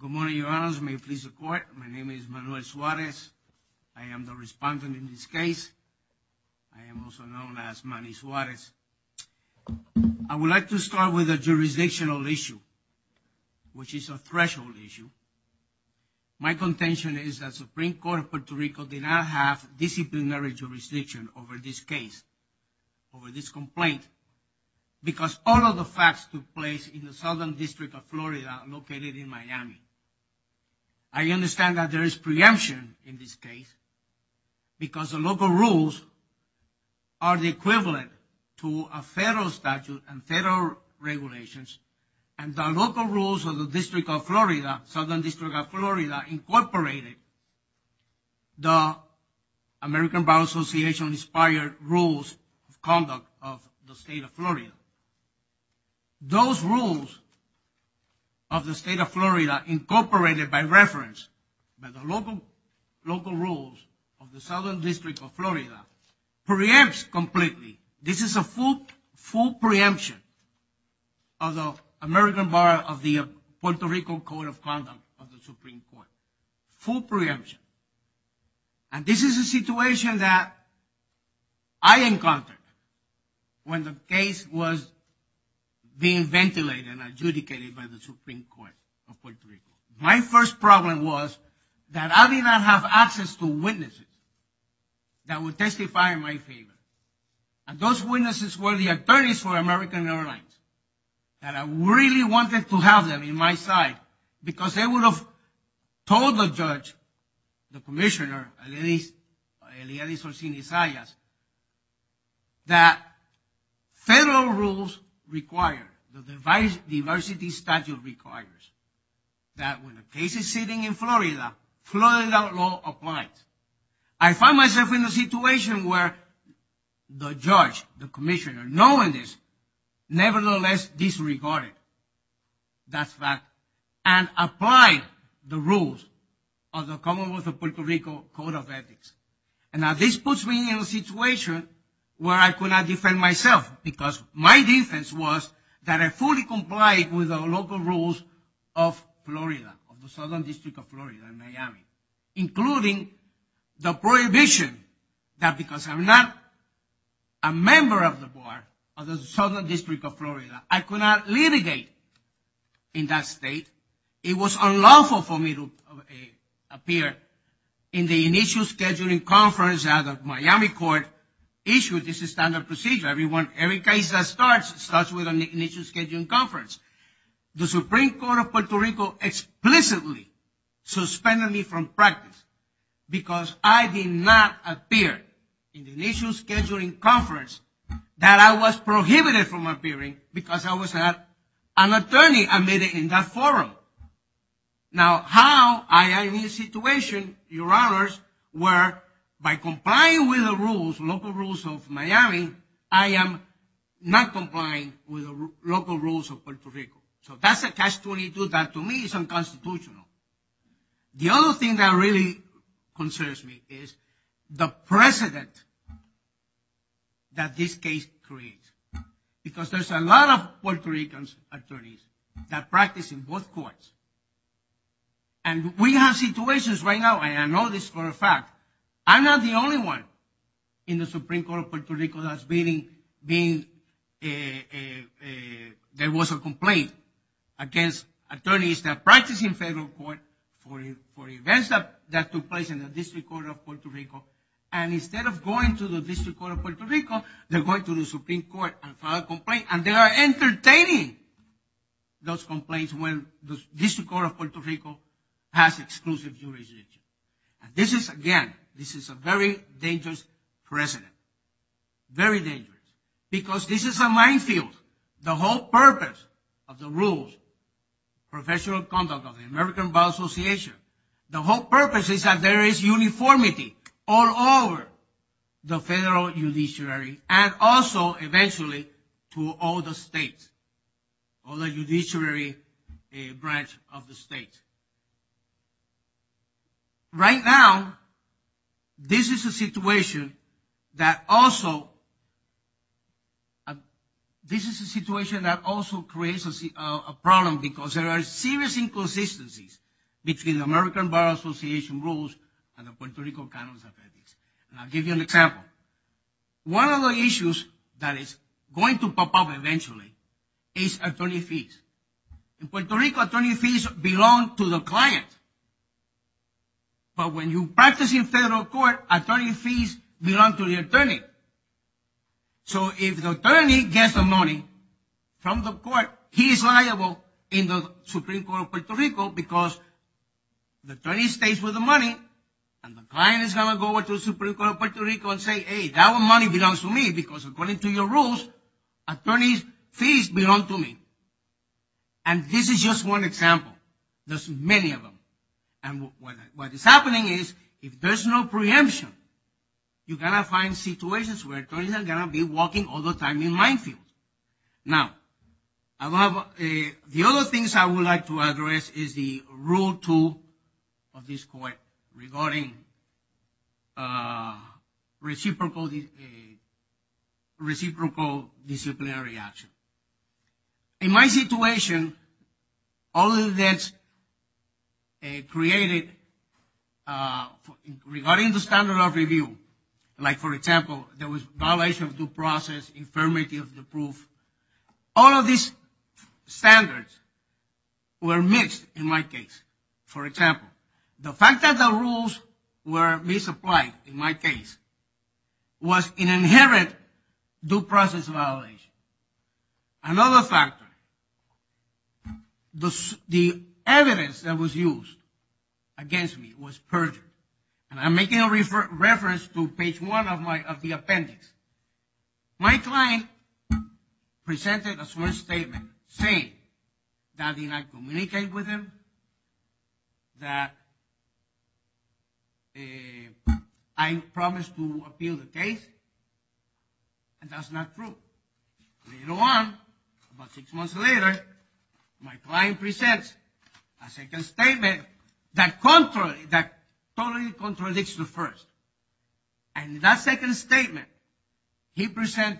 Good morning your honors, may it please the court, my name is Manuel Suarez, I am the respondent in this case. I am also known as Manny Suarez. I would like to start with a jurisdictional issue, which is a threshold issue. My contention is that Supreme Court of Puerto Rico did not have disciplinary jurisdiction over this case, over this complaint, because all of the facts took place in the Southern District of Florida, located in Miami. I understand that there is preemption in this case, because the local rules are the equivalent to a federal statute and federal regulations, and the local rules of the District of Florida, Southern Bar Association inspired rules of conduct of the State of Florida. Those rules of the State of Florida, incorporated by reference by the local local rules of the Southern District of Florida, preempts completely. This is a full preemption of the American Bar of the Puerto Rico Code of Conduct of preemption, and this is a situation that I encountered when the case was being ventilated and adjudicated by the Supreme Court of Puerto Rico. My first problem was that I did not have access to witnesses that would testify in my favor, and those witnesses were the attorneys for American Airlines, and I really wanted to have them in my side, because they would have told the judge, the commissioner, Eliadis Orsini-Zayas, that federal rules require, the diversity statute requires, that when a case is sitting in Florida, Florida law applies. I found myself in a situation where the judge, the commissioner, knowing this, nevertheless disregarded that fact, and applied the rules of the Commonwealth of Puerto Rico Code of Ethics, and now this puts me in a situation where I could not defend myself, because my defense was that I fully complied with the local rules of Florida, of the Southern District of Florida in Miami, including the prohibition that because I'm not a member of the Bar of the Southern District of Florida, I could not litigate in that state. It was unlawful for me to appear in the initial scheduling conference that the Miami court issued. This is standard procedure. Everyone, every case that starts, starts with an initial scheduling conference. The Supreme Court of Puerto Rico explicitly suspended me from practice, because I did not appear in the initial scheduling conference that I was prohibited from I was an attorney admitted in that forum. Now how I am in this situation, your honors, where by complying with the rules, local rules of Miami, I am not complying with the local rules of Puerto Rico. So that's a catch-22, that to me is unconstitutional. The other thing that really concerns me is the precedent that this case creates, because there's a lot of Puerto Ricans attorneys that practice in both courts. And we have situations right now, and I know this for a fact, I'm not the only one in the Supreme Court of Puerto Rico that's been, there was a complaint against attorneys that practice in federal court for events that took place in the District Court of Puerto Rico. And instead of going to the Supreme Court and file a complaint, and they are entertaining those complaints when the District Court of Puerto Rico has exclusive jurisdiction. And this is, again, this is a very dangerous precedent, very dangerous, because this is a minefield. The whole purpose of the rules, professional conduct of the American Vow Association, the whole purpose is that there is uniformity all over the state, but also, eventually, to all the states, all the judiciary branch of the state. Right now, this is a situation that also, this is a situation that also creates a problem, because there are serious inconsistencies between the American Vow Association rules and the Puerto Rico Canon of Ethics. And I'll give you an example. One of the issues that is going to pop up eventually is attorney fees. In Puerto Rico, attorney fees belong to the client. But when you practice in federal court, attorney fees belong to the attorney. So if the attorney gets the money from the court, he is liable in the Supreme Court of Puerto Rico, because the attorney stays with the money, and the client is going to go over to the Supreme Court of Puerto Rico and say, hey, that money belongs to me, because according to your rules, attorney's fees belong to me. And this is just one example. There's many of them. And what is happening is, if there's no preemption, you're going to find situations where attorneys are going to be walking all the time in minefields. Now, the other things I would like to address is the rule two of this court regarding reciprocal disciplinary action. In my situation, all that's created regarding the standard of review, like for example, there was violation of due process, were mixed in my case. For example, the fact that the rules were misapplied in my case was an inherent due process violation. Another factor, the evidence that was used against me was perjured. And I'm making a reference to page one of the appendix. My client presented a statement that I did not communicate with him, that I promised to appeal the case, and that's not true. Later on, about six months later, my client presents a second statement that totally contradicts the first. And in that second statement, he filed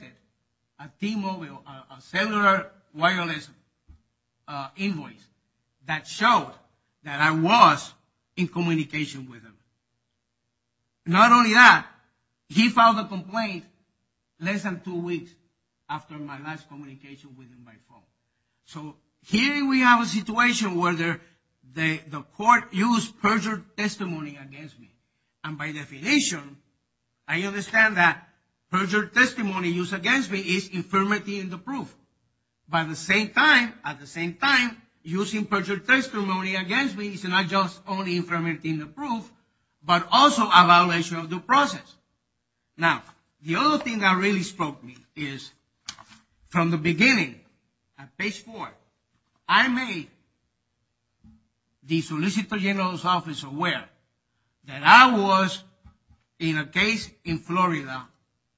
another wireless invoice that showed that I was in communication with him. Not only that, he filed a complaint less than two weeks after my last communication with him by phone. So here we have a situation where the court used perjured testimony against me. And by definition, I understand that perjured testimony used against me is infirmity in the proof. But at the same time, using perjured testimony against me is not just only infirmity in the proof, but also a violation of due process. Now, the other thing that really struck me is, from the beginning, at page four, I made the Solicitor General's office aware that I was in a case in Florida.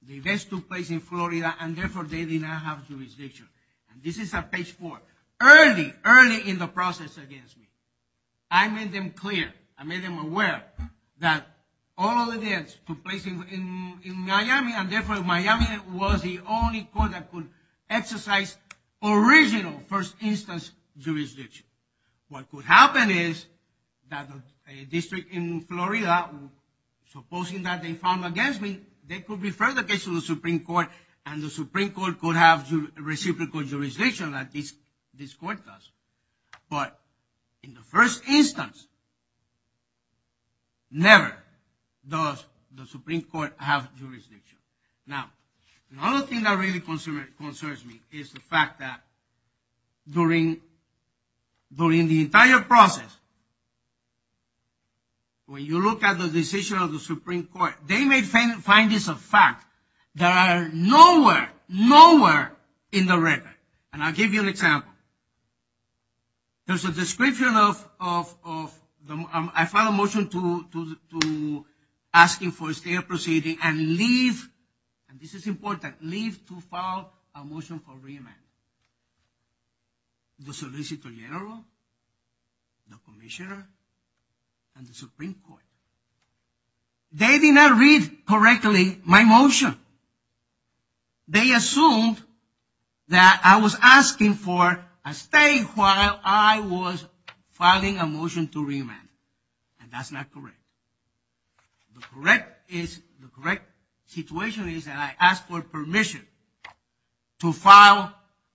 The events took place in Florida, and therefore, they did not have jurisdiction. And this is at page four. Early, early in the process against me, I made them clear, I made them aware that all of the events took place in Miami, and therefore, Miami was the only court that could exercise original first instance jurisdiction. What could happen is that a district in Florida, supposing that they found against me, they could refer the case to the Supreme Court, and the Supreme Court could have reciprocal jurisdiction like this court does. But in the first instance, never does the Supreme Court have jurisdiction. Now, another thing that really concerns me is the fact that during the entire process, when you look at the decision of the Supreme Court, they may find this a fact. There are nowhere, nowhere in the record, and I'll give you an example. There's a description of, I filed a motion to asking for a state proceeding and leave, and this is important, leave to file a motion for re-amendment. The solicitor general, the commissioner, and the Supreme Court, they did not read correctly my motion. They assumed that I was asking for a state while I was filing a motion to re-amend, and that's not correct. The correct is, the correct situation is that I asked for permission to file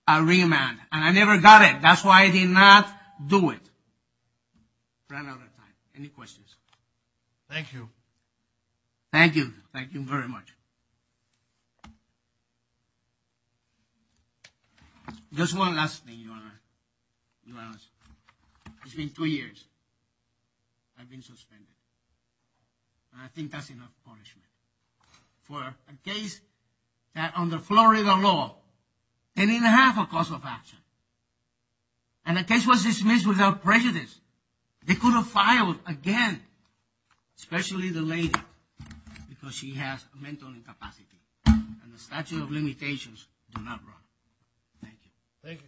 a re-amend, and I never got it. That's why I did not do it, ran out of time. Any questions? Thank you. Thank you. Thank you very much. Just one last thing, Your Honor. It's been two years. I've been suspended, and I think that's enough punishment for a case that under Florida law, they didn't have a cause of action. And the case was dismissed without prejudice. They could have filed again, especially the lady, because she has a mental incapacity, and the statute of limitations do not run. Thank you. Thank you, Counselor.